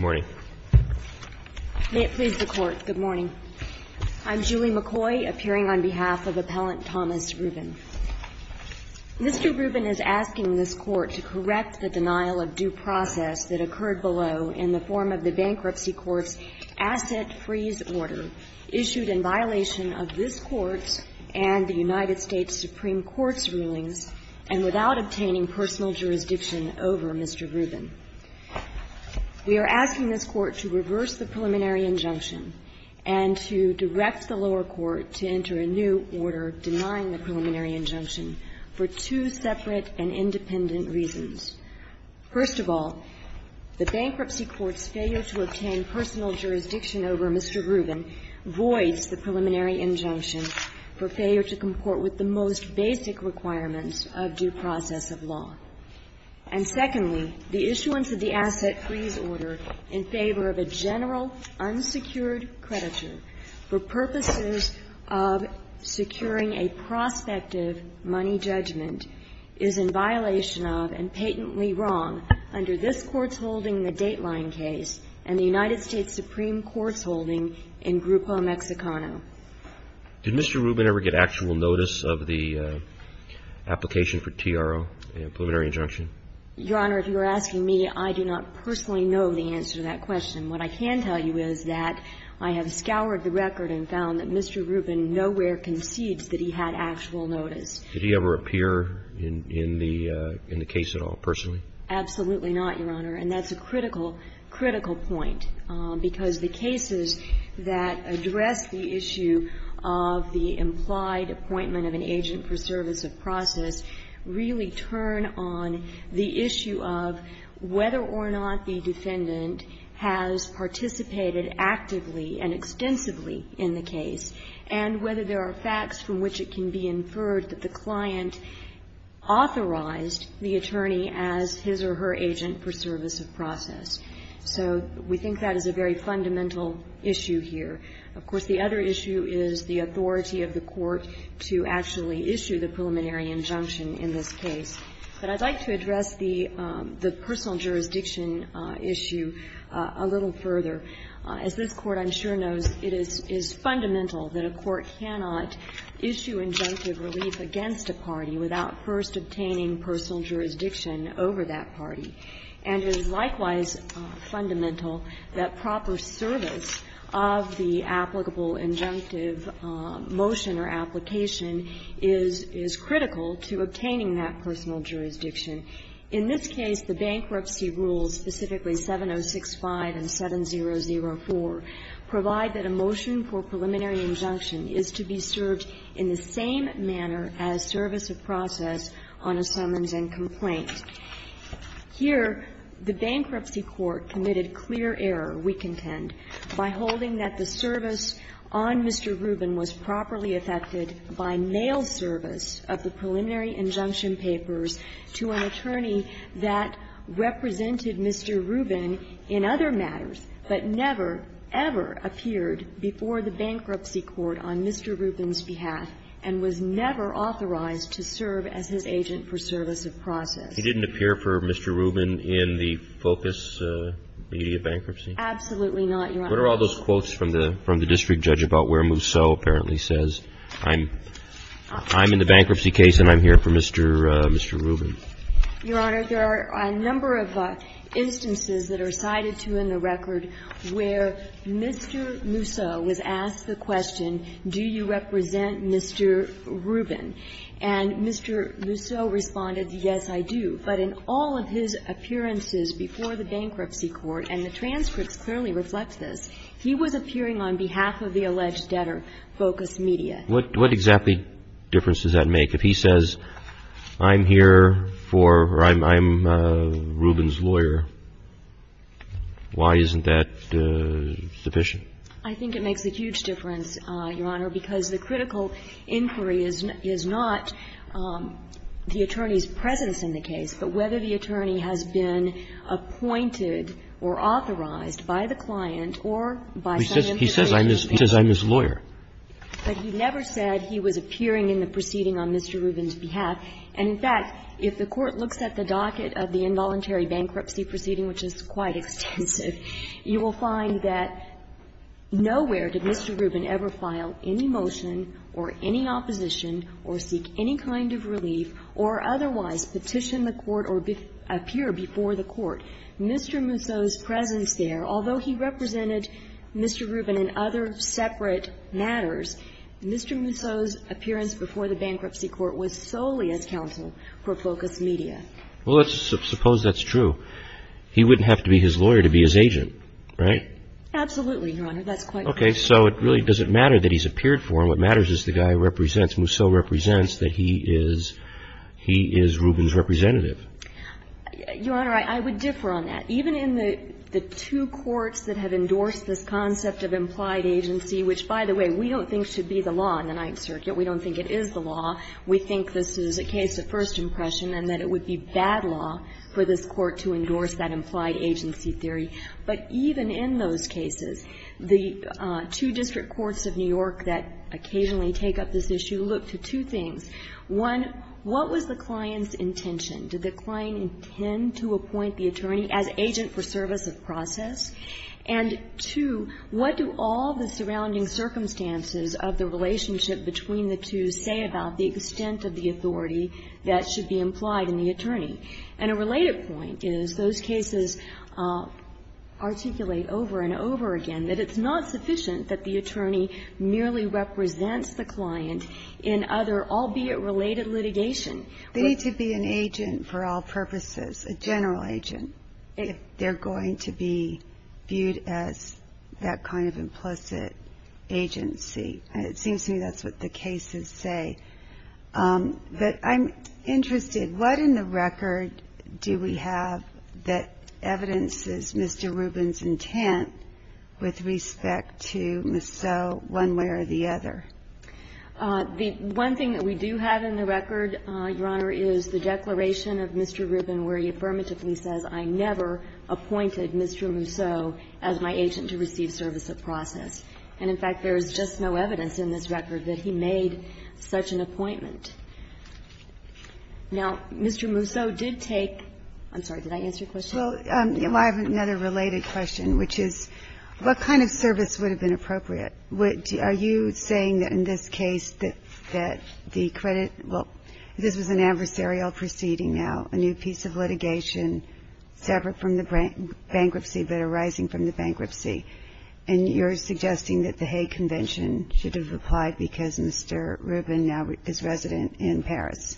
May it please the Court, good morning. I'm Julie McCoy, appearing on behalf of Appellant Thomas Rubin. Mr. Rubin is asking this Court to correct the denial of due process that occurred below in the form of the Bankruptcy Court's asset freeze order issued in violation of this Court's and the United States Supreme Court's rulings and without obtaining personal jurisdiction over Mr. Rubin. We are asking this Court to reverse the preliminary injunction and to direct the lower court to enter a new order denying the preliminary injunction for two separate and independent reasons. First of all, the Bankruptcy Court's failure to obtain personal jurisdiction over Mr. Rubin voids the preliminary injunction for failure to comport with the most basic requirements of due process of law. And secondly, the issuance of the asset freeze order in favor of a general unsecured creditor for purposes of securing a prospective money judgment is in violation of and patently wrong under this Court's holding the Dateline case and the United States Supreme Court's holding in Grupo Mexicano. Did Mr. Rubin ever get actual notice of the application for TRO, the preliminary injunction? Your Honor, if you're asking me, I do not personally know the answer to that question. What I can tell you is that I have scoured the record and found that Mr. Rubin nowhere concedes that he had actual notice. Did he ever appear in the case at all personally? Absolutely not, Your Honor. And that's a critical, critical point, because the cases that address the issue of the implied appointment of an agent for service of process really turn on the issue of whether or not the defendant has participated actively and extensively in the case, and whether there are facts from which it can be inferred that the client authorized the attorney as his or her agent for service of process. So we think that is a very fundamental issue here. Of course, the other issue is the authority of the Court to actually issue the preliminary injunction in this case. But I'd like to address the personal jurisdiction issue a little further. As this Court, I'm sure, knows, it is fundamental that a court cannot issue injunctive relief against a party without first obtaining personal jurisdiction over that party. And it is likewise fundamental that proper service of the applicable injunctive motion or application is critical to obtaining that personal jurisdiction. In this case, the bankruptcy rules, specifically 7065 and 7004, provide that a motion for preliminary injunction is to be served in the same manner as service of process on a summons and complaint. Here, the bankruptcy court committed clear error, we contend, by holding that the service on Mr. Rubin was properly effected by mail service of the preliminary injunction papers to an attorney that represented Mr. Rubin in other matters, but never, ever appeared before the bankruptcy court on Mr. Rubin's behalf and was never authorized to serve as his agent for service of process. He didn't appear for Mr. Rubin in the FOCUS media bankruptcy? Absolutely not, Your Honor. What are all those quotes from the district judge about where Mousseau apparently says, I'm in the bankruptcy case and I'm here for Mr. Rubin? Your Honor, there are a number of instances that are cited to in the record where Mr. Mousseau was asked the question, do you represent Mr. Rubin? And Mr. Mousseau responded, yes, I do. But in all of his appearances before the bankruptcy court, and the transcripts clearly reflect this, he was appearing on behalf of the alleged debtor, FOCUS media. What exactly difference does that make? If he says, I'm here for or I'm Rubin's lawyer, why isn't that sufficient? I think it makes a huge difference, Your Honor, because the critical inquiry is not the attorney's presence in the case, but whether the attorney has been appointed or authorized by the client or by some information. He says I'm his lawyer. But he never said he was appearing in the proceeding on Mr. Rubin's behalf. And, in fact, if the Court looks at the docket of the involuntary bankruptcy proceeding, which is quite extensive, you will find that nowhere did Mr. Rubin ever file any motion or any opposition or seek any kind of relief or otherwise petition the Court or appear before the Court. Mr. Mousseau's presence there, although he represented Mr. Rubin in other separate matters, Mr. Mousseau's appearance before the bankruptcy Court was solely as counsel for FOCUS media. Well, let's suppose that's true. He wouldn't have to be his lawyer to be his agent, right? Absolutely, Your Honor. That's quite right. Okay. So it really doesn't matter that he's appeared for him. What matters is the guy who represents, Mousseau represents, that he is Rubin's representative. Your Honor, I would differ on that. Even in the two courts that have endorsed this concept of implied agency, which, by the way, we don't think should be the law in the Ninth Circuit. We don't think it is the law. We think this is a case of first impression and that it would be bad law for this Court to endorse that implied agency theory. But even in those cases, the two district courts of New York that occasionally take up this issue look to two things. One, what was the client's intention? Did the client intend to appoint the attorney as agent for service of process? And two, what do all the surrounding circumstances of the relationship between the two say about the extent of the authority that should be implied in the attorney? And a related point is those cases articulate over and over again that it's not sufficient that the attorney merely represents the client in other, albeit related, litigation. They need to be an agent for all purposes, a general agent, if they're going to be viewed as that kind of implicit agency. It seems to me that's what the cases say. But I'm interested, what in the record do we have that evidences Mr. Rubin's intent with respect to Masseau one way or the other? The one thing that we do have in the record, Your Honor, is the declaration of Mr. Rubin where he affirmatively says, I never appointed Mr. Masseau as my agent to receive service of process. And, in fact, there is just no evidence in this record that he made such an appointment. Now, Mr. Masseau did take – I'm sorry, did I answer your question? Well, I have another related question, which is, what kind of service would have been appropriate? Are you saying that in this case that the credit – well, this was an adversarial proceeding now, a new piece of litigation separate from the bankruptcy but arising from the bankruptcy, and you're suggesting that the Hague Convention should have applied because Mr. Rubin now is resident in Paris.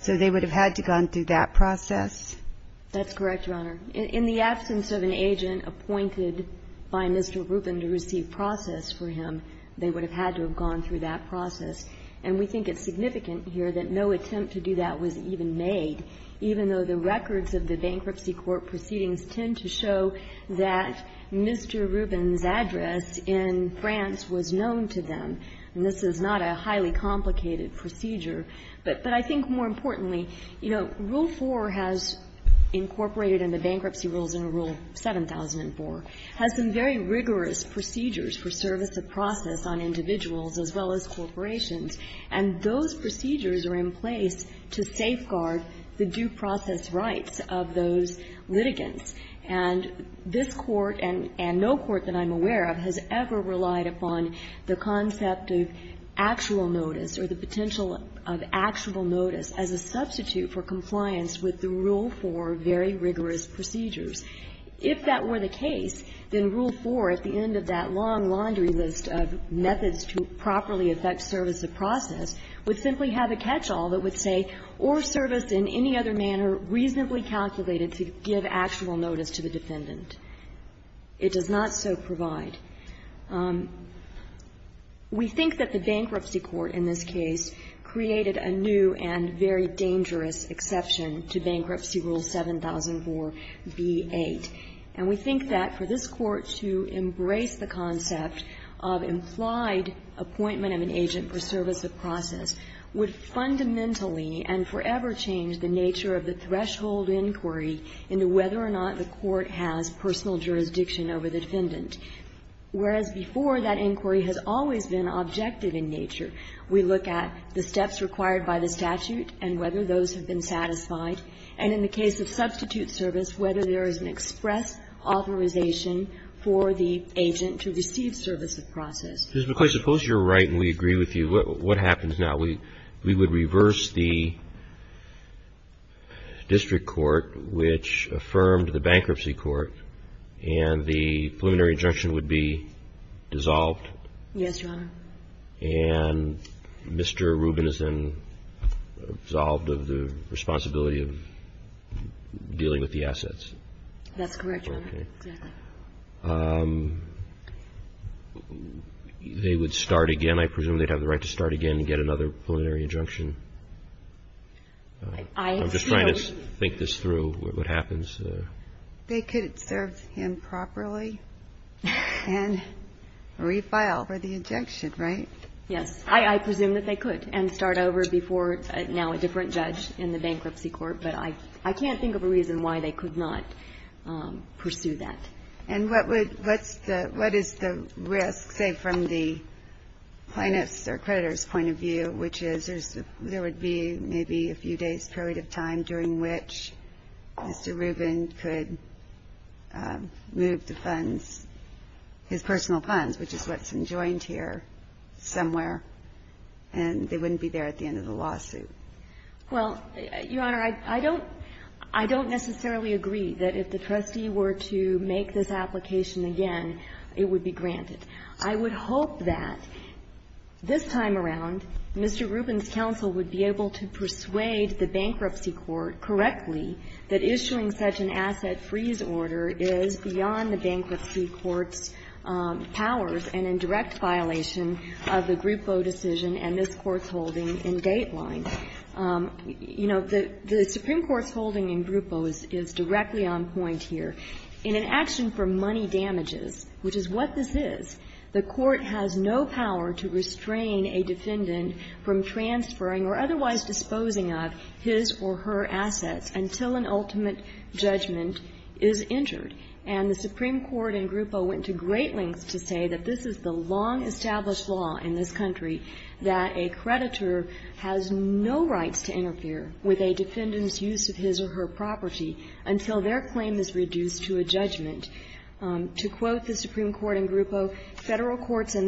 So they would have had to have gone through that process? That's correct, Your Honor. In the absence of an agent appointed by Mr. Rubin to receive process for him, they would have had to have gone through that process. And we think it's significant here that no attempt to do that was even made, even though the records of the bankruptcy court proceedings tend to show that Mr. Rubin's address in France was known to them. And this is not a highly complicated procedure. But I think more importantly, you know, Rule 4 has incorporated in the bankruptcy rules in Rule 7004 has some very rigorous procedures for service of process on individuals as well as corporations, and those procedures are in place to safeguard the due process rights of those litigants. And this Court, and no court that I'm aware of, has ever relied upon the concept of actual notice or the potential of actual notice as a substitute for compliance with the Rule 4 very rigorous procedures. If that were the case, then Rule 4 at the end of that long laundry list of methods to properly effect service of process would simply have a catch-all that would say, or service in any other manner reasonably calculated to give actual notice to the defendant. It does not so provide. We think that the bankruptcy court in this case created a new and very dangerous exception to Bankruptcy Rule 7004b-8. And we think that for this Court to embrace the concept of implied appointment of an agent for service of process would fundamentally and forever change the nature of the threshold inquiry into whether or not the court has personal jurisdiction over the defendant, whereas before, that inquiry has always been objective in nature. We look at the steps required by the statute and whether those have been satisfied, and in the case of substitute service, whether there is an express authorization for the agent to receive service of process. Roberts. Suppose you're right and we agree with you. What happens now? We would reverse the district court, which affirmed the bankruptcy court, and the preliminary injunction would be dissolved. Yes, Your Honor. And Mr. Rubin is then absolved of the responsibility of dealing with the assets. That's correct, Your Honor. Exactly. They would start again. I presume they'd have the right to start again and get another preliminary injunction. I'm just trying to think this through, what happens. They could serve him properly and refile for the injunction, right? Yes. I presume that they could and start over before now a different judge in the bankruptcy court, but I can't think of a reason why they could not pursue that. And what is the risk, say, from the plaintiff's or creditor's point of view, which is there would be maybe a few days' period of time during which Mr. Rubin could move the funds, his personal funds, which is what's enjoined here somewhere, and they wouldn't be there at the end of the lawsuit? Well, Your Honor, I don't necessarily agree that if the trustee were to make this application again, it would be granted. I would hope that this time around, Mr. Rubin's counsel would be able to persuade the bankruptcy court correctly that issuing such an asset freeze order is beyond the bankruptcy court's powers and in direct violation of the Groupo decision and this Court's holding in Dateline. You know, the Supreme Court's holding in Groupo is directly on point here. In an action for money damages, which is what this is, the Court has no power to restrain a defendant from transferring or otherwise disposing of his or her assets until an ultimate judgment is entered. And the Supreme Court in Groupo went to great lengths to say that this is the long-established law in this country that a creditor has no rights to interfere with a defendant's use of his or her property until their claim is reduced to a judgment. To quote the Supreme Court in Groupo, And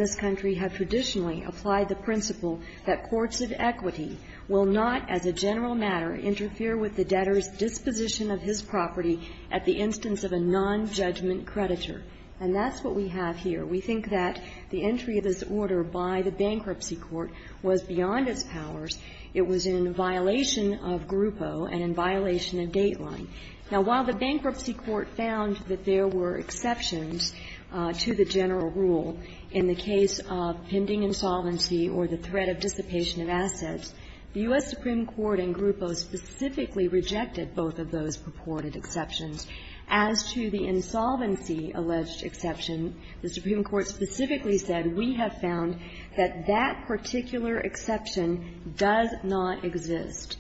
that's what we have here. We think that the entry of this order by the bankruptcy court was beyond its powers. It was in violation of Groupo and in violation of Dateline. Now, while the bankruptcy court found that there were exceptions to the general rule in the case of pending insolvency or the threat of dissipation of assets, the U.S. Supreme Court in Groupo specifically rejected both of those purported exceptions. As to the insolvency alleged exception, the Supreme Court specifically said, we have found that that particular exception does not exist.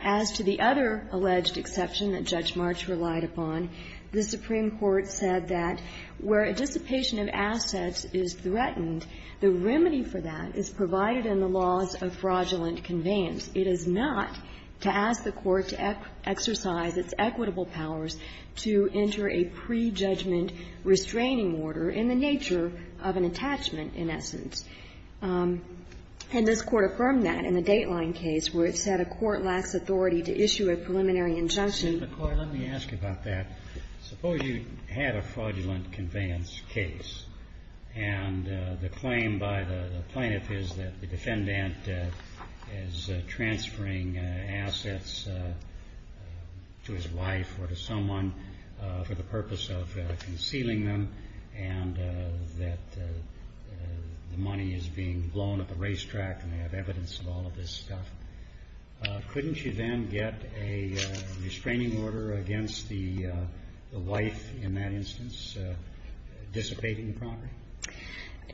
As to the other alleged exception that Judge March relied upon, the Supreme Court said that where a dissipation of assets is threatened, the remedy for that is provided in the laws of fraudulent conveyance. It is not to ask the Court to exercise its equitable powers to enter a prejudgment restraining order in the nature of an attachment, in essence. And this Court affirmed that in the Dateline case, where it said a court lacks authority to issue a preliminary injunction. Kennedy, let me ask you about that. Suppose you had a fraudulent conveyance case, and the claim by the plaintiff is that the defendant is transferring assets to his wife or to someone for the purpose of concealing them, and that the money is being blown up a racetrack and they have evidence of all of this stuff. Couldn't you then get a restraining order against the wife in that instance, dissipating the property?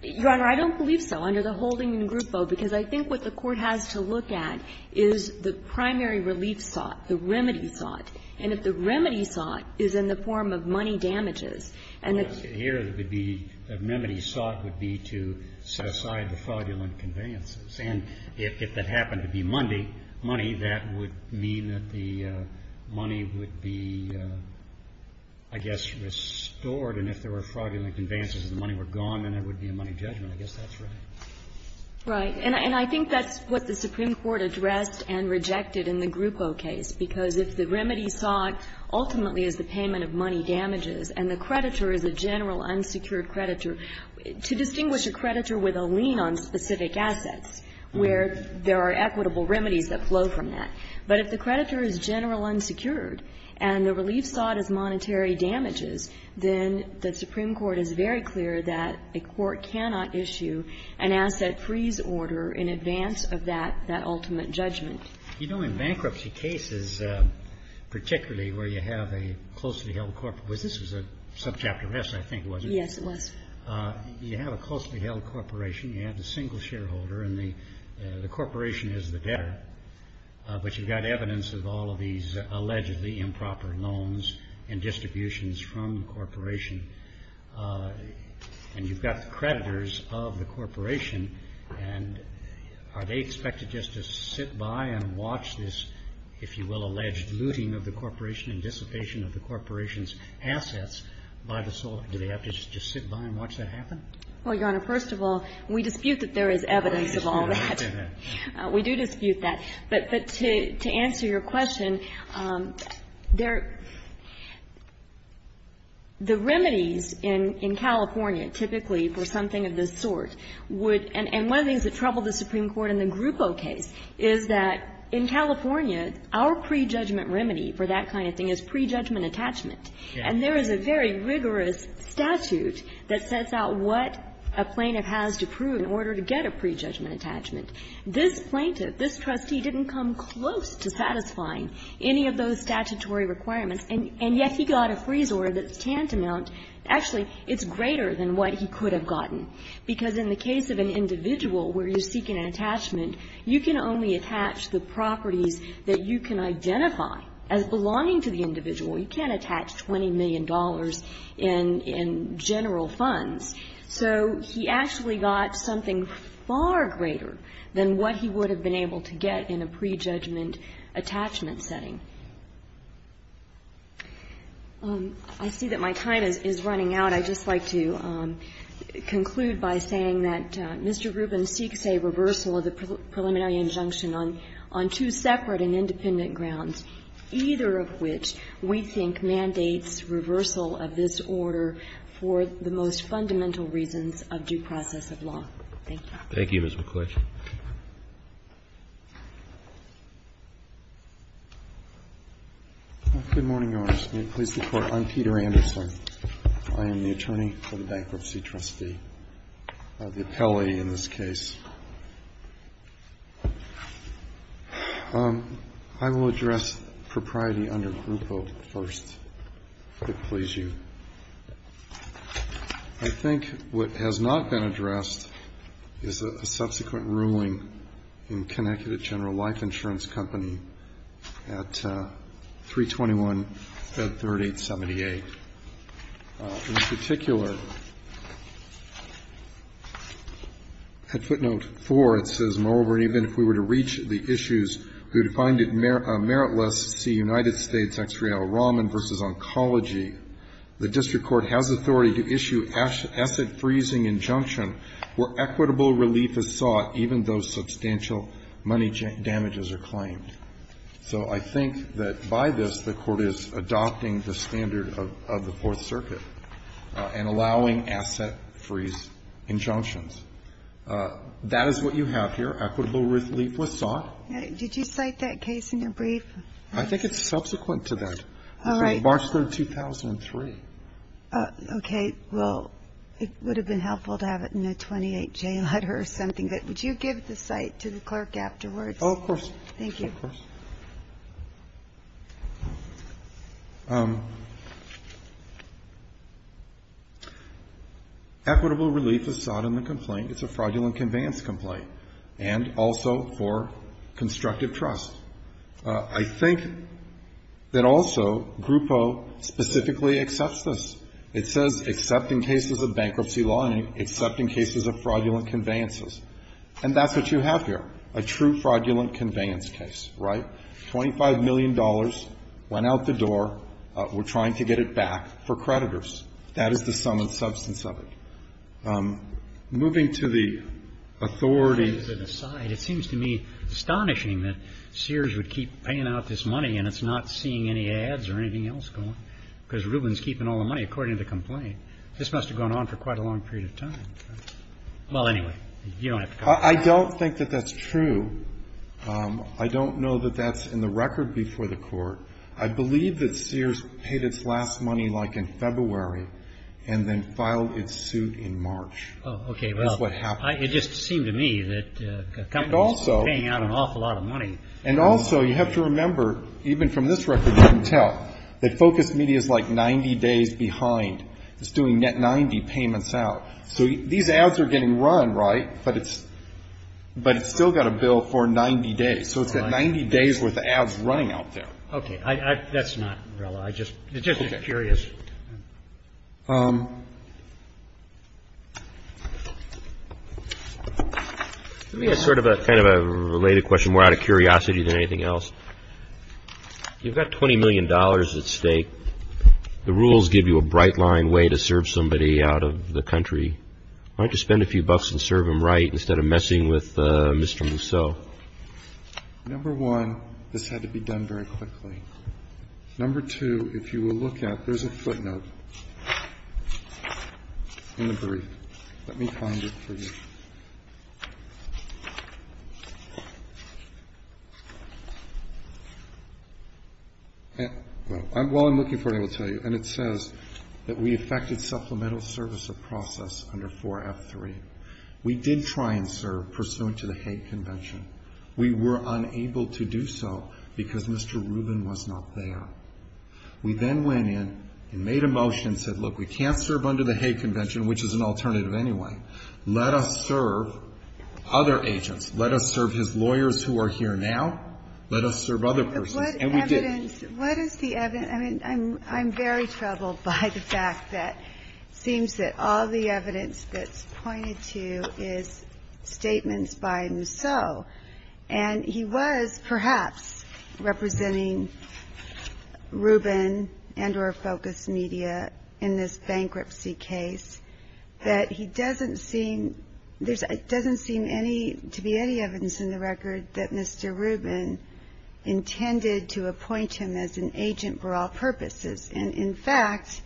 Your Honor, I don't believe so under the holding in Groupo, because I think what the Court has to look at is the primary relief sought, the remedy sought. And if the remedy sought is in the form of money damages, and the ---- Here, the remedy sought would be to set aside the fraudulent conveyances. And if that happened to be money, that would mean that the money would be, I guess, restored. And if there were fraudulent conveyances and the money were gone, then there would be a money judgment. I guess that's right. Right. And I think that's what the Supreme Court addressed and rejected in the Groupo case, because if the remedy sought ultimately is the payment of money damages and the creditor is a general unsecured creditor, to distinguish a creditor with a lien on specific assets, where there are equitable remedies that flow from that. But if the creditor is general unsecured and the relief sought is monetary damages, then the Supreme Court is very clear that a court cannot issue an asset freeze order in advance of that ultimate judgment. You know, in bankruptcy cases, particularly where you have a closely held corporate ---- This was a subchapter S, I think, wasn't it? Yes, it was. You have a closely held corporation. You have the single shareholder, and the corporation is the debtor. But you've got evidence of all of these allegedly improper loans and distributions from the corporation. And you've got the creditors of the corporation, and are they expected just to sit by and watch this, if you will, alleged looting of the corporation and dissipation of the corporation's assets by the sole ---- Do they have to just sit by and watch that happen? Well, Your Honor, first of all, we dispute that there is evidence of all that. We do dispute that. But to answer your question, there ---- the remedies in California typically for something of this sort would ---- and one of the things that troubled the Supreme Court in the Oboe case is that in California, our pre-judgment remedy for that kind of thing is pre-judgment attachment. And there is a very rigorous statute that sets out what a plaintiff has to prove in order to get a pre-judgment attachment. This plaintiff, this trustee, didn't come close to satisfying any of those statutory requirements, and yet he got a freeze order that's tantamount ---- actually, it's greater than what he could have gotten. Because in the case of an individual where you seek an attachment, you can only attach the properties that you can identify as belonging to the individual. You can't attach $20 million in general funds. So he actually got something far greater than what he would have been able to get in a pre-judgment attachment setting. I see that my time is running out. And I'd just like to conclude by saying that Mr. Rubin seeks a reversal of the preliminary injunction on two separate and independent grounds, either of which we think mandates reversal of this order for the most fundamental reasons of due process of law. Thank you. Thank you, Ms. McClatchy. Good morning, Your Honors. May it please the Court, I'm Peter Anderson. I am the attorney for the Bankruptcy Trustee, the appellee in this case. I will address propriety under Groupo first, if it please you. I think what has not been addressed is a subsequent ruling in Connecticut General Life Insurance Company at 321 Fed 3878. In particular, at footnote 4, it says, Moreover, even if we were to reach the issues who defined it meritless, see United States, X. Rial, Rahman v. Oncology, the district court has authority to issue asset freezing injunction where equitable relief is sought even though substantial money damages are claimed. So I think that by this, the Court is adopting the standard of the Fourth Circuit and allowing asset freeze injunctions. That is what you have here, equitable relief was sought. Did you cite that case in your brief? I think it's subsequent to that. March 3, 2003. Okay. Well, it would have been helpful to have it in a 28J letter or something. But would you give the cite to the clerk afterwards? Of course. Thank you. Of course. Equitable relief is sought in the complaint. It's a fraudulent conveyance complaint. And also for constructive trust. I think that also Groupo specifically accepts this. It says, except in cases of bankruptcy law, except in cases of fraudulent conveyances. And that's what you have here, a true fraudulent conveyance case. Right? $25 million went out the door. We're trying to get it back for creditors. That is the sum and substance of it. Moving to the authority. It seems to me astonishing that Sears would keep paying out this money and it's not seeing any ads or anything else going, because Rubin's keeping all the money, according to the complaint. This must have gone on for quite a long period of time. Well, anyway, you don't have to go there. I don't think that that's true. I don't know that that's in the record before the court. I believe that Sears paid its last money like in February and then filed its suit in March. Oh, okay. Well, it just seemed to me that companies are paying out an awful lot of money. And also, you have to remember, even from this record you can tell, that Focus Media is like 90 days behind. It's doing net 90 payments out. So these ads are getting run, right? But it's still got a bill for 90 days. So it's got 90 days worth of ads running out there. Okay. That's not, I'm just curious. Let me ask sort of a kind of a related question, more out of curiosity than anything else. You've got $20 million at stake. The rules give you a bright line way to serve somebody out of the country. Why don't you spend a few bucks and serve them right instead of messing with Mr. Musso? Number one, this had to be done very quickly. Number two, if you will look at, there's a footnote in the brief. Let me find it for you. While I'm looking for it, I will tell you. And it says that we affected supplemental service of process under 4F3. We did try and serve pursuant to the Hague Convention. We were unable to do so because Mr. Rubin was not there. We then went in and made a motion and said, look, we can't serve under the Hague Convention, which is an alternative anyway. Let us serve other agents. Let us serve his lawyers who are here now. Let us serve other persons. And we did. What is the evidence? I'm very troubled by the fact that it seems that all the evidence that's pointed to is statements by Musso. And he was, perhaps, representing Rubin and or Focus Media in this bankruptcy case, that it doesn't seem to be any evidence in the record that Mr. Rubin intended to appoint him as an agent for all purposes. And in fact,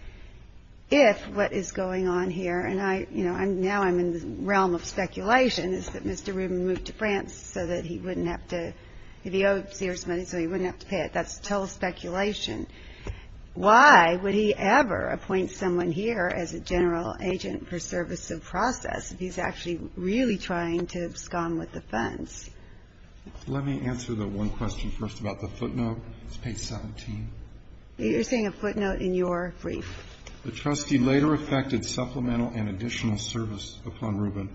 if what is going on here, and now I'm in the realm of speculation, is that Mr. Rubin moved to France so that he wouldn't have to, if he owed Sears money, so he wouldn't have to pay it. That's total speculation. Why would he ever appoint someone here as a general agent for service of process if he's actually really trying to scum with the funds? Let me answer the one question first about the footnote. It's page 17. You're saying a footnote in your brief. The trustee later effected supplemental and additional service upon Rubin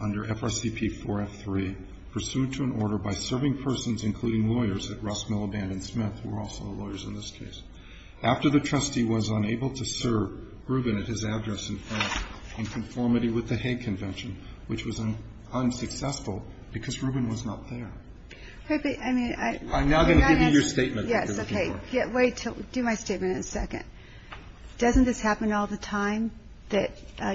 under FRCP 4F3, pursuant to an order by serving persons, including lawyers at Rossmillaband and Smith, who were also lawyers in this case. After the trustee was unable to serve Rubin at his address in France in conformity with the Hague Convention, which was unsuccessful because Rubin was not there. I'm now going to give you your statement. Yes, okay. Wait till I do my statement in a second. Doesn't this happen all the time, that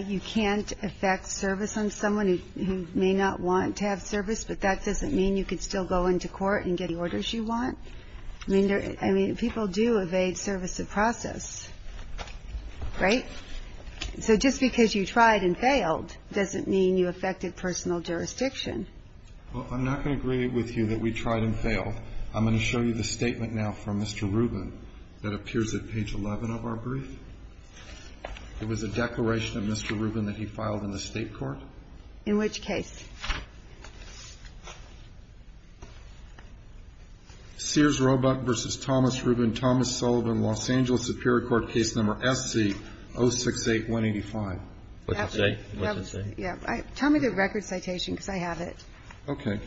you can't effect service on someone who may not want to have service, but that doesn't mean you can still go into court and get the orders you want? I mean, people do evade service of process, right? So just because you tried and failed doesn't mean you effected personal jurisdiction. Well, I'm not going to agree with you that we tried and failed. I'm going to show you the statement now from Mr. Rubin that appears at page 11 of our brief. It was a declaration of Mr. Rubin that he filed in the state court. In which case? Sears-Robuck v. Thomas Rubin, Thomas Sullivan, Los Angeles Superior Court, case number SC-068-185. What's it say? What's it say? Tell me the record citation, because I have it. Okay.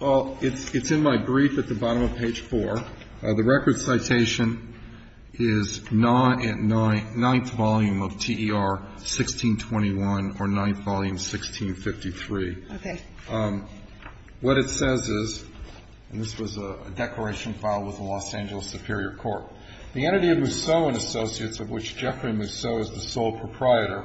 Well, it's in my brief at the bottom of page 4. The record citation is not at 9th volume of TER 1621 or 9th volume 1653. Okay. What it says is, and this was a declaration filed with the Los Angeles Superior Court, the entity of Mousseau & Associates, of which Jeffrey Mousseau is the sole proprietor,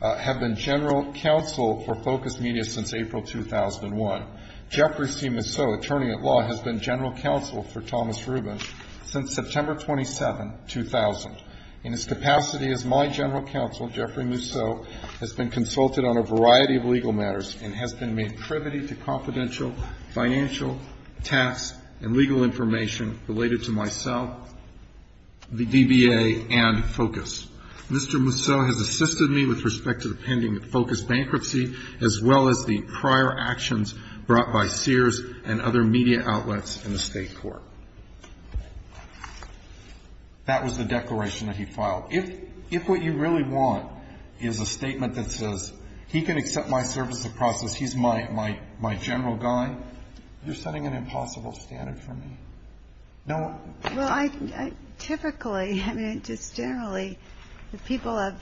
have been general counsel for Focus Media since April 2001. Jeffrey C. Mousseau, attorney at law, has been general counsel for Thomas Rubin since September 27, 2000. In his capacity as my general counsel, Jeffrey Mousseau has been consulted on a variety of legal matters and has been made privy to confidential financial, tax, and legal information related to myself, the DBA, and Focus. Mr. Mousseau has assisted me with respect to the pending Focus bankruptcy, as well as the prior actions brought by Sears and other media outlets in the State court. That was the declaration that he filed. If what you really want is a statement that says, he can accept my service of process, he's my general guy, you're setting an impossible standard for me. Typically, just generally, the people that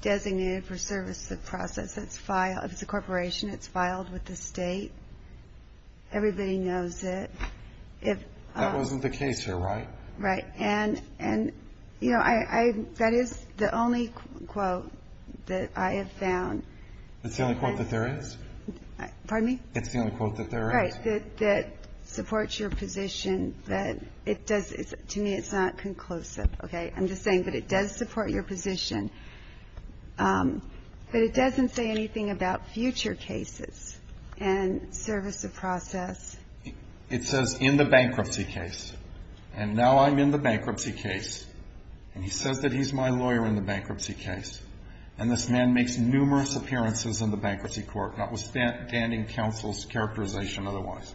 designated for service of process, if it's a corporation, it's filed with the state. Everybody knows it. That wasn't the case here, right? Right. And, you know, that is the only quote that I have found. It's the only quote that there is? Pardon me? It's the only quote that there is. Right. That supports your position that it does to me, it's not conclusive, okay? I'm just saying that it does support your position. But it doesn't say anything about future cases and service of process. It says in the bankruptcy case. And now I'm in the bankruptcy case, and he says that he's my lawyer in the bankruptcy case. And this man makes numerous appearances in the bankruptcy court. That was standing counsel's characterization otherwise.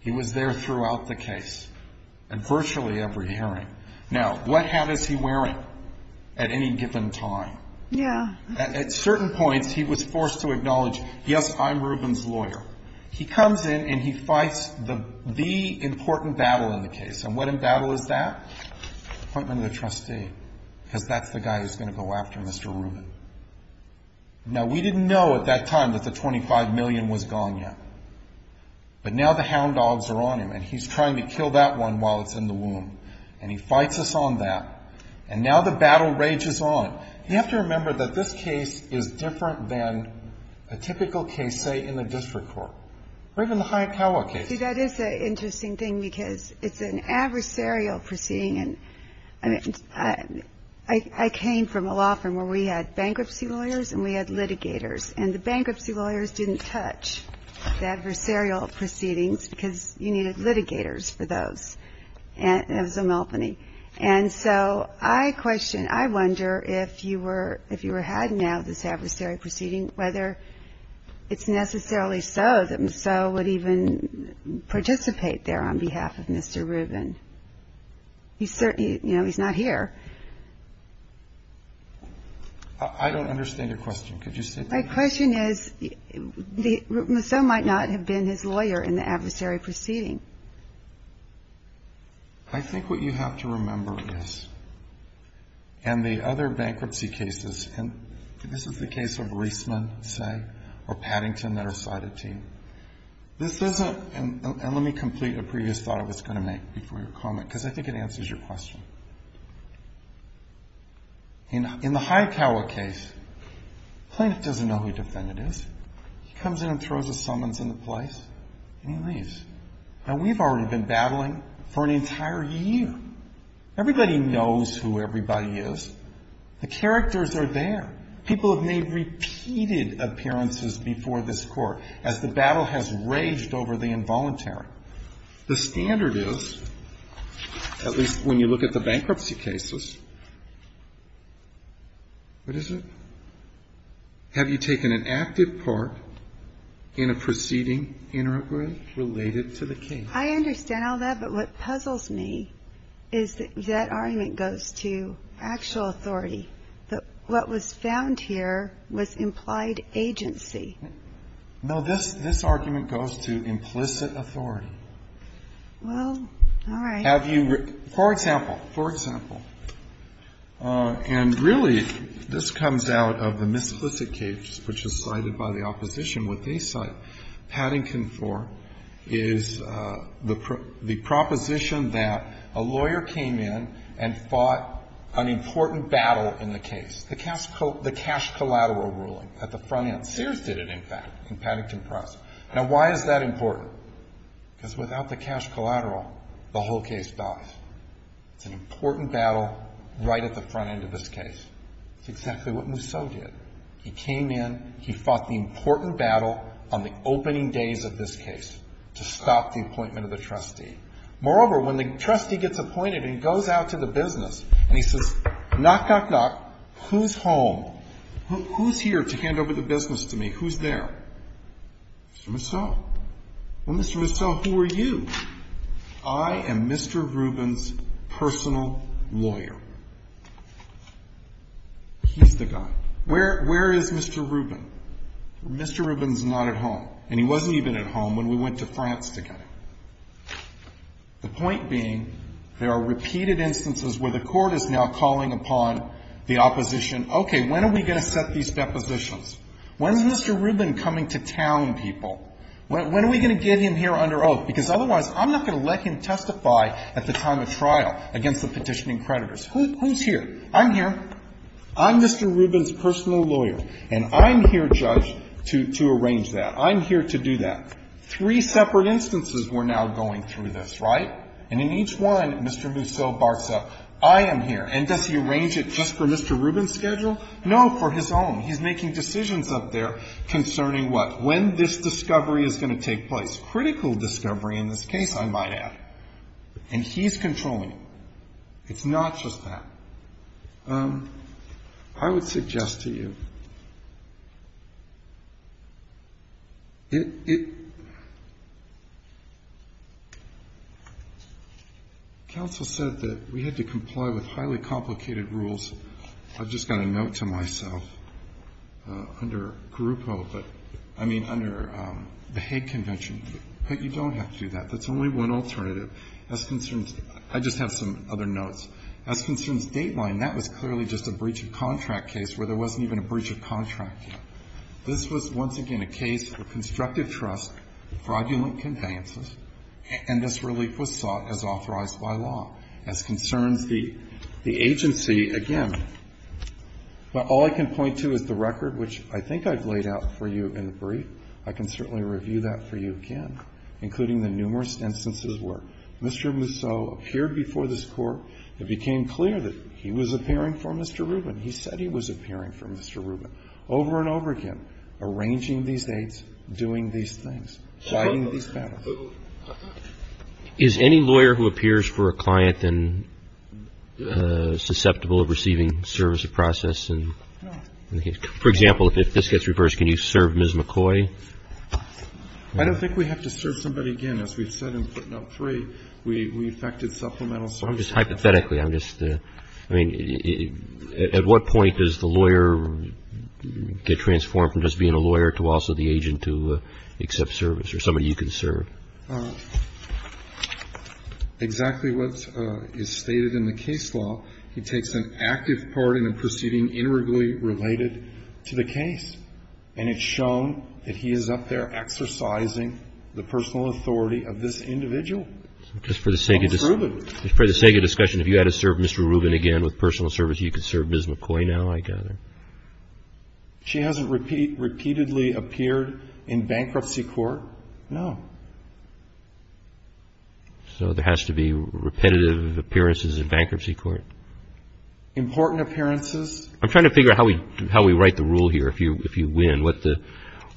He was there throughout the case and virtually every hearing. Now, what hat is he wearing at any given time? Yeah. At certain points, he was forced to acknowledge, yes, I'm Reuben's lawyer. He comes in and he fights the important battle in the case. And what in battle is that? Appointment of the trustee, because that's the guy who's going to go after Mr. Reuben. Now, we didn't know at that time that the $25 million was gone yet. But now the hound dogs are on him, and he's trying to kill that one while it's in the womb. And he fights us on that. And now the battle rages on. You have to remember that this case is different than a typical case, say, in the district court. Or even the Hyakawa case. See, that is an interesting thing because it's an adversarial proceeding. And, I mean, I came from a law firm where we had bankruptcy lawyers and we had litigators. And the bankruptcy lawyers didn't touch the adversarial proceedings because you needed litigators for those. And it was a malphony. And so I question, I wonder if you were had now this adversarial proceeding, whether it's necessarily so that Maseau would even participate there on behalf of Mr. Reuben. You know, he's not here. I don't understand your question. Could you say that again? My question is, Maseau might not have been his lawyer in the adversarial proceeding. I think what you have to remember is, and the other bankruptcy cases, and this is the case of Reisman, say, or Paddington that are cited to you. This isn't, and let me complete a previous thought I was going to make before your comment, because I think it answers your question. In the Hyakawa case, plaintiff doesn't know who defendant is. He comes in and throws a summons in the place, and he leaves. Now, we've already been battling for an entire year. Everybody knows who everybody is. The characters are there. People have made repeated appearances before this Court as the battle has raged over the involuntary. The standard is, at least when you look at the bankruptcy cases, what is it? Have you taken an active part in a proceeding integrally related to the case? I understand all that, but what puzzles me is that that argument goes to actual authority. What was found here was implied agency. No, this argument goes to implicit authority. Well, all right. Have you, for example, for example, and really, this comes out of the misplicit case, which is cited by the opposition. What they cite Paddington for is the proposition that a lawyer came in and fought an important battle in the case, the cash collateral ruling at the front end. Sears did it, in fact, in Paddington Press. Now, why is that important? Because without the cash collateral, the whole case dies. It's an important battle right at the front end of this case. It's exactly what Mousseau did. He came in, he fought the important battle on the opening days of this case to stop the appointment of the trustee. Moreover, when the trustee gets appointed and goes out to the business and he says, knock, knock, knock, who's home? Who's here to hand over the business to me? Who's there? Mr. Mousseau. Well, Mr. Mousseau, who are you? I am Mr. Rubin's personal lawyer. He's the guy. Where is Mr. Rubin? Mr. Rubin's not at home. And he wasn't even at home when we went to France together. The point being, there are repeated instances where the Court is now calling upon the opposition, okay, when are we going to set these depositions? When is Mr. Rubin coming to town, people? When are we going to get him here under oath? Because otherwise, I'm not going to let him testify at the time of trial against the petitioning creditors. Who's here? I'm here. I'm Mr. Rubin's personal lawyer. And I'm here, Judge, to arrange that. I'm here to do that. Three separate instances we're now going through this, right? And in each one, Mr. Mousseau barks up, I am here. And does he arrange it just for Mr. Rubin's schedule? No, for his own. He's making decisions up there concerning what? When this discovery is going to take place. Critical discovery in this case, I might add. And he's controlling it. So it's not just that. I would suggest to you, it, it, counsel said that we had to comply with highly complicated rules. I've just got a note to myself under Garupo, but, I mean, under the Hague Convention. But you don't have to do that. That's only one alternative. As concerns, I just have some other notes. As concerns Dateline, that was clearly just a breach of contract case where there wasn't even a breach of contract here. This was, once again, a case for constructive trust, fraudulent conveyances, and this relief was sought as authorized by law. As concerns the, the agency, again, all I can point to is the record, which I think I've laid out for you in the brief. I can certainly review that for you again, including the numerous instances where Mr. Musso appeared before this Court. It became clear that he was appearing for Mr. Rubin. He said he was appearing for Mr. Rubin. Over and over again, arranging these dates, doing these things, fighting these battles. Roberts. Is any lawyer who appears for a client then susceptible of receiving service of process and, for example, if this gets reversed, can you serve Ms. McCoy? I don't think we have to serve somebody again. As we've said in footnote three, we, we affected supplemental services. Hypothetically, I'm just, I mean, at what point does the lawyer get transformed from just being a lawyer to also the agent to accept service or somebody you can serve? Exactly what is stated in the case law, he takes an active part in a proceeding related to the case. And it's shown that he is up there exercising the personal authority of this individual. Just for the sake of discussion, if you had to serve Mr. Rubin again with personal service, you could serve Ms. McCoy now, I gather. She hasn't repeatedly appeared in bankruptcy court. No. So there has to be repetitive appearances in bankruptcy court? Important appearances. I'm trying to figure out how we, how we write the rule here, if you, if you win, what the,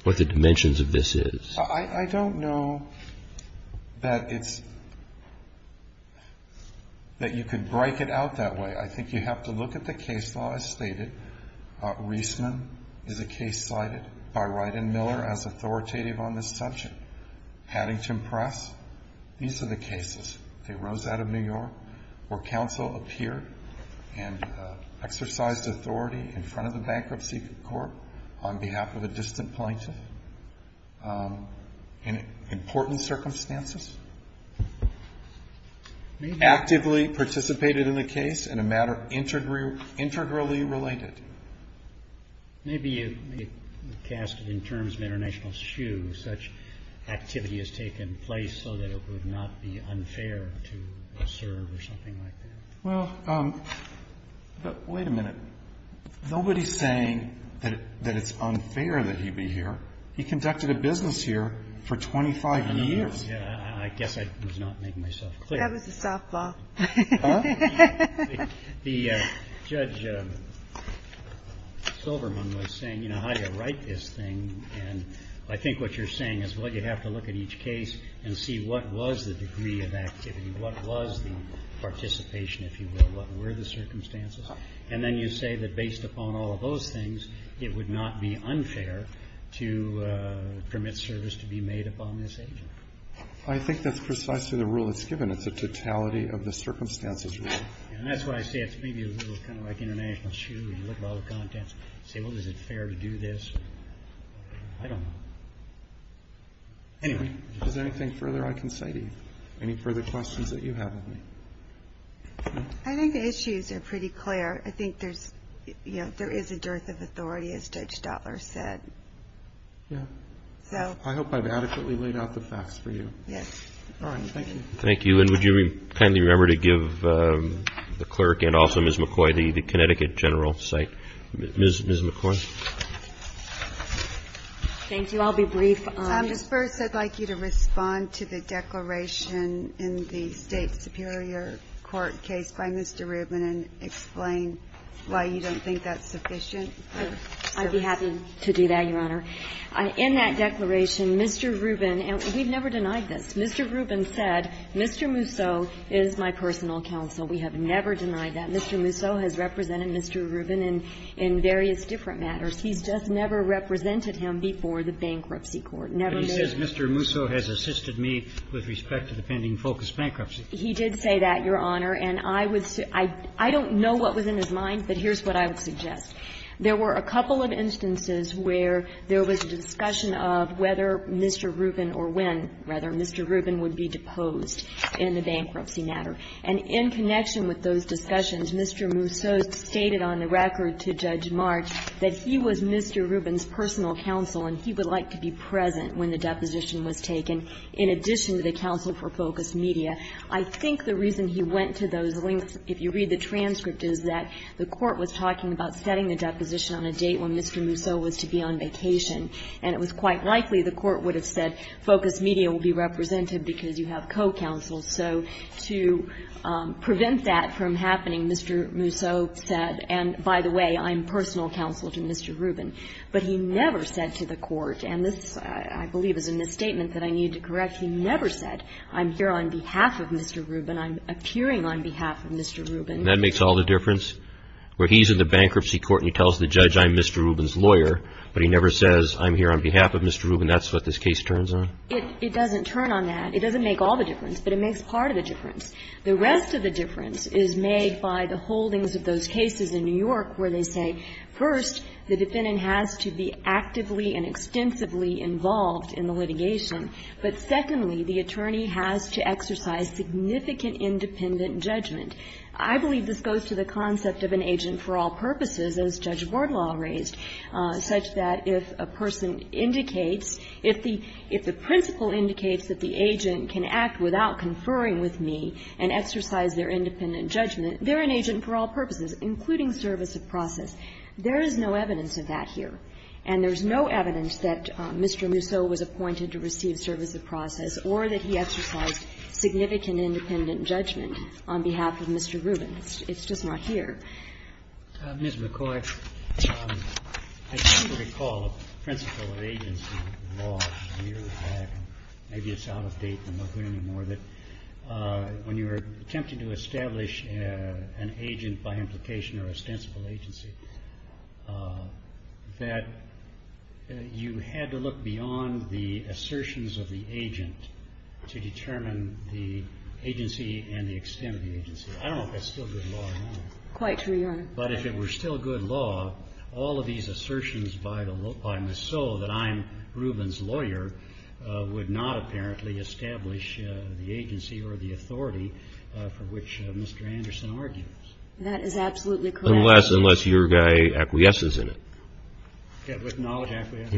what the dimensions of this is. I, I don't know that it's, that you could break it out that way. I think you have to look at the case law as stated. Reisman is a case cited by Ryden Miller as authoritative on this subject. Paddington Press, these are the cases. They rose out of New York where counsel appeared and exercised authority in front of the bankruptcy court on behalf of a distant plaintiff in important circumstances. Actively participated in the case in a matter integrally related. Maybe you cast it in terms of international shoe. I guess I would have to try to figure out whether that's what the court is asking But I don't know that you can't just say that the plaintiff has to do such activity has taken place so that it would not be unfair to serve or something like that. Well, but wait a minute. Nobody's saying that it's unfair that he be here. He conducted a business here for 25 years. I guess I was not making myself clear. That was a softball. Huh? The Judge Silverman was saying, you know, how do you write this thing? And I think what you're saying is, well, you'd have to look at each case and see what was the degree of activity, what was the participation, if you will, what were the circumstances. And then you say that based upon all of those things, it would not be unfair to permit service to be made upon this agent. I think that's precisely the rule that's given. It's a totality of the circumstances rule. And that's why I say it's maybe a little kind of like international shoe. You look at all the contents and say, well, is it fair to do this? I don't know. Anyway. Is there anything further I can say to you? Any further questions that you have of me? I think the issues are pretty clear. I think there's, you know, there is a dearth of authority, as Judge Stotler said. Yeah. So. I hope I've adequately laid out the facts for you. Yes. All right. Thank you. Thank you. And would you kindly remember to give the clerk and also Ms. McCoy the Connecticut general site. Ms. McCoy. Thank you. I'll be brief. First, I'd like you to respond to the declaration in the State Superior Court case by Mr. Rubin and explain why you don't think that's sufficient. I'd be happy to do that, Your Honor. In that declaration, Mr. Rubin, and we've never denied this. Mr. Rubin said, Mr. Musso is my personal counsel. We have never denied that. Mr. Musso has represented Mr. Rubin in various different matters. He's just never represented him before the bankruptcy court. Never made it. But he says Mr. Musso has assisted me with respect to the pending focus bankruptcy. He did say that, Your Honor. And I would say – I don't know what was in his mind, but here's what I would suggest. There were a couple of instances where there was a discussion of whether Mr. Rubin or when, rather, Mr. Rubin would be deposed in the bankruptcy matter. And in connection with those discussions, Mr. Musso stated on the record to Judge March that he was Mr. Rubin's personal counsel and he would like to be present when the deposition was taken, in addition to the counsel for Focus Media. I think the reason he went to those links, if you read the transcript, is that the court was talking about setting the deposition on a date when Mr. Musso was to be on vacation. And it was quite likely the court would have said Focus Media will be represented because you have co-counsels. So to prevent that from happening, Mr. Musso said, and by the way, I'm personal counsel to Mr. Rubin. But he never said to the court, and this, I believe, is a misstatement that I need to correct. He never said, I'm here on behalf of Mr. Rubin. I'm appearing on behalf of Mr. Rubin. And that makes all the difference? Where he's in the bankruptcy court and he tells the judge, I'm Mr. Rubin's lawyer, but he never says, I'm here on behalf of Mr. Rubin. That's what this case turns on? It doesn't turn on that. It doesn't make all the difference, but it makes part of the difference. The rest of the difference is made by the holdings of those cases in New York where they say, first, the defendant has to be actively and extensively involved in the litigation. But secondly, the attorney has to exercise significant independent judgment. I believe this goes to the concept of an agent for all purposes, as Judge Wardlaw raised, such that if a person indicates, if the principle indicates that the agent can act without conferring with me and exercise their independent judgment, they're an agent for all purposes, including service of process. There is no evidence of that here. And there's no evidence that Mr. Musso was appointed to receive service of process or that he exercised significant independent judgment on behalf of Mr. Rubin. It's just not here. Ms. McCoy. I don't recall a principle of agency law from years back, and maybe it's out of date and not good anymore, that when you were attempting to establish an agent by implication or ostensible agency, that you had to look beyond the assertions of the agent to determine the agency and the extent of the agency. I don't know if that's still good law or not. Quite true, Your Honor. But if it were still good law, all of these assertions by Musso that I'm Rubin's lawyer would not apparently establish the agency or the authority for which Mr. Anderson argues. That is absolutely correct. Unless your guy acquiesces in it. With knowledge, acquiesce.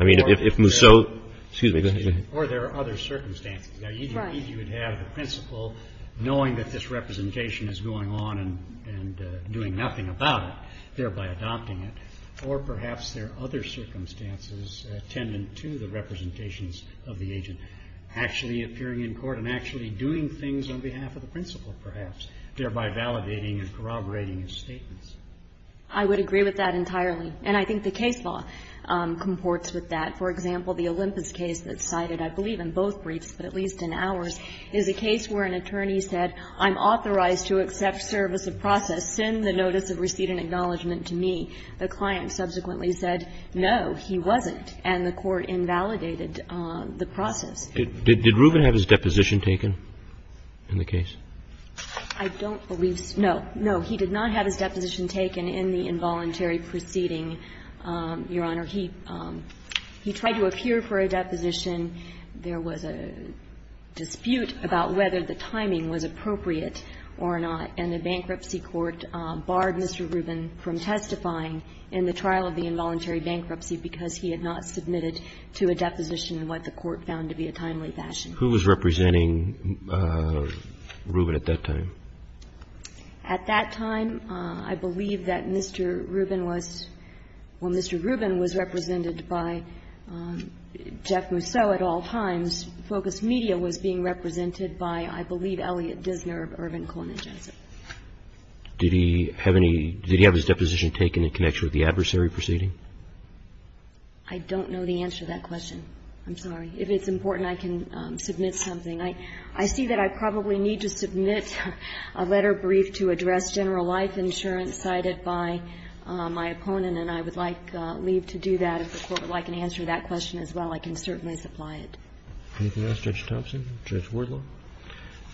I mean, if Musso, excuse me. Or there are other circumstances. Right. I think you would have the principle, knowing that this representation is going on and doing nothing about it, thereby adopting it, or perhaps there are other circumstances tendent to the representations of the agent actually appearing in court and actually doing things on behalf of the principle, perhaps, thereby validating and corroborating his statements. I would agree with that entirely. And I think the case law comports with that. I don't believe that, for example, the Olympus case that's cited, I believe in both briefs, but at least in ours, is a case where an attorney said, I'm authorized to accept service of process. Send the notice of receipt and acknowledgment to me. The client subsequently said, no, he wasn't. And the court invalidated the process. Did Rubin have his deposition taken in the case? I don't believe so. No, no. He did not have his deposition taken in the involuntary proceeding, Your Honor. He tried to appear for a deposition. There was a dispute about whether the timing was appropriate or not. And the bankruptcy court barred Mr. Rubin from testifying in the trial of the involuntary bankruptcy because he had not submitted to a deposition what the court found to be a timely fashion. Who was representing Rubin at that time? At that time, I believe that Mr. Rubin was ñ well, Mr. Rubin was represented by Jeff Mousseau at all times. Focus Media was being represented by, I believe, Elliot Dissner of Irvin, Koenig, Jensen. Did he have any ñ did he have his deposition taken in connection with the adversary proceeding? I don't know the answer to that question. I'm sorry. If it's important, I can submit something. I see that I probably need to submit a letter brief to address general life insurance cited by my opponent, and I would like to leave to do that. If the Court would like an answer to that question as well, I can certainly supply it. Anything else, Judge Thompson? Judge Wardlaw?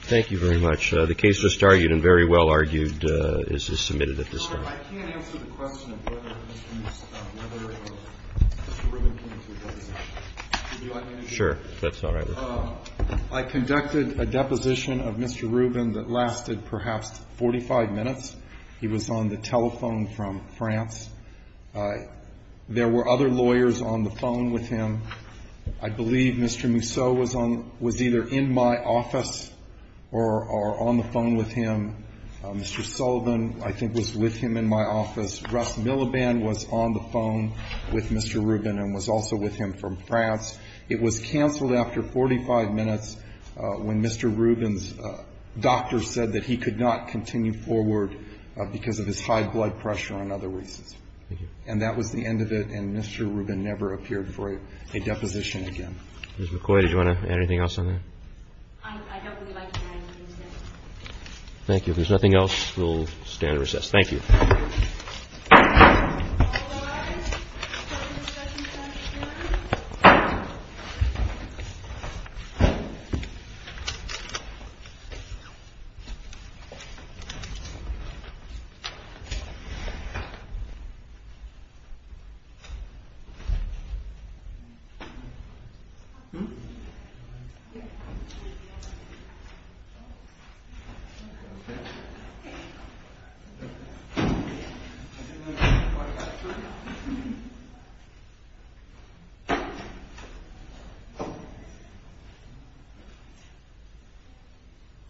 Thank you very much. The case was argued and very well argued is submitted at this time. I can't answer the question of whether Mr. Mousseau, whether Mr. Rubin came to a deposition. Would you like me to do that? If that's all right with you. I conducted a deposition of Mr. Rubin that lasted perhaps 45 minutes. He was on the telephone from France. There were other lawyers on the phone with him. I believe Mr. Mousseau was on ñ was either in my office or on the phone with him. Mr. Sullivan, I think, was with him in my office. Russ Milliband was on the phone with Mr. Rubin and was also with him from France. It was canceled after 45 minutes when Mr. Rubin's doctor said that he could not continue forward because of his high blood pressure and other reasons. Thank you. And that was the end of it. And Mr. Rubin never appeared for a deposition again. Ms. McCoy, did you want to add anything else on that? I don't really like the idea of recess. Thank you. If there's nothing else, we'll stand at recess. Thank you. All rise for the discussion of the next hearing. Thank you.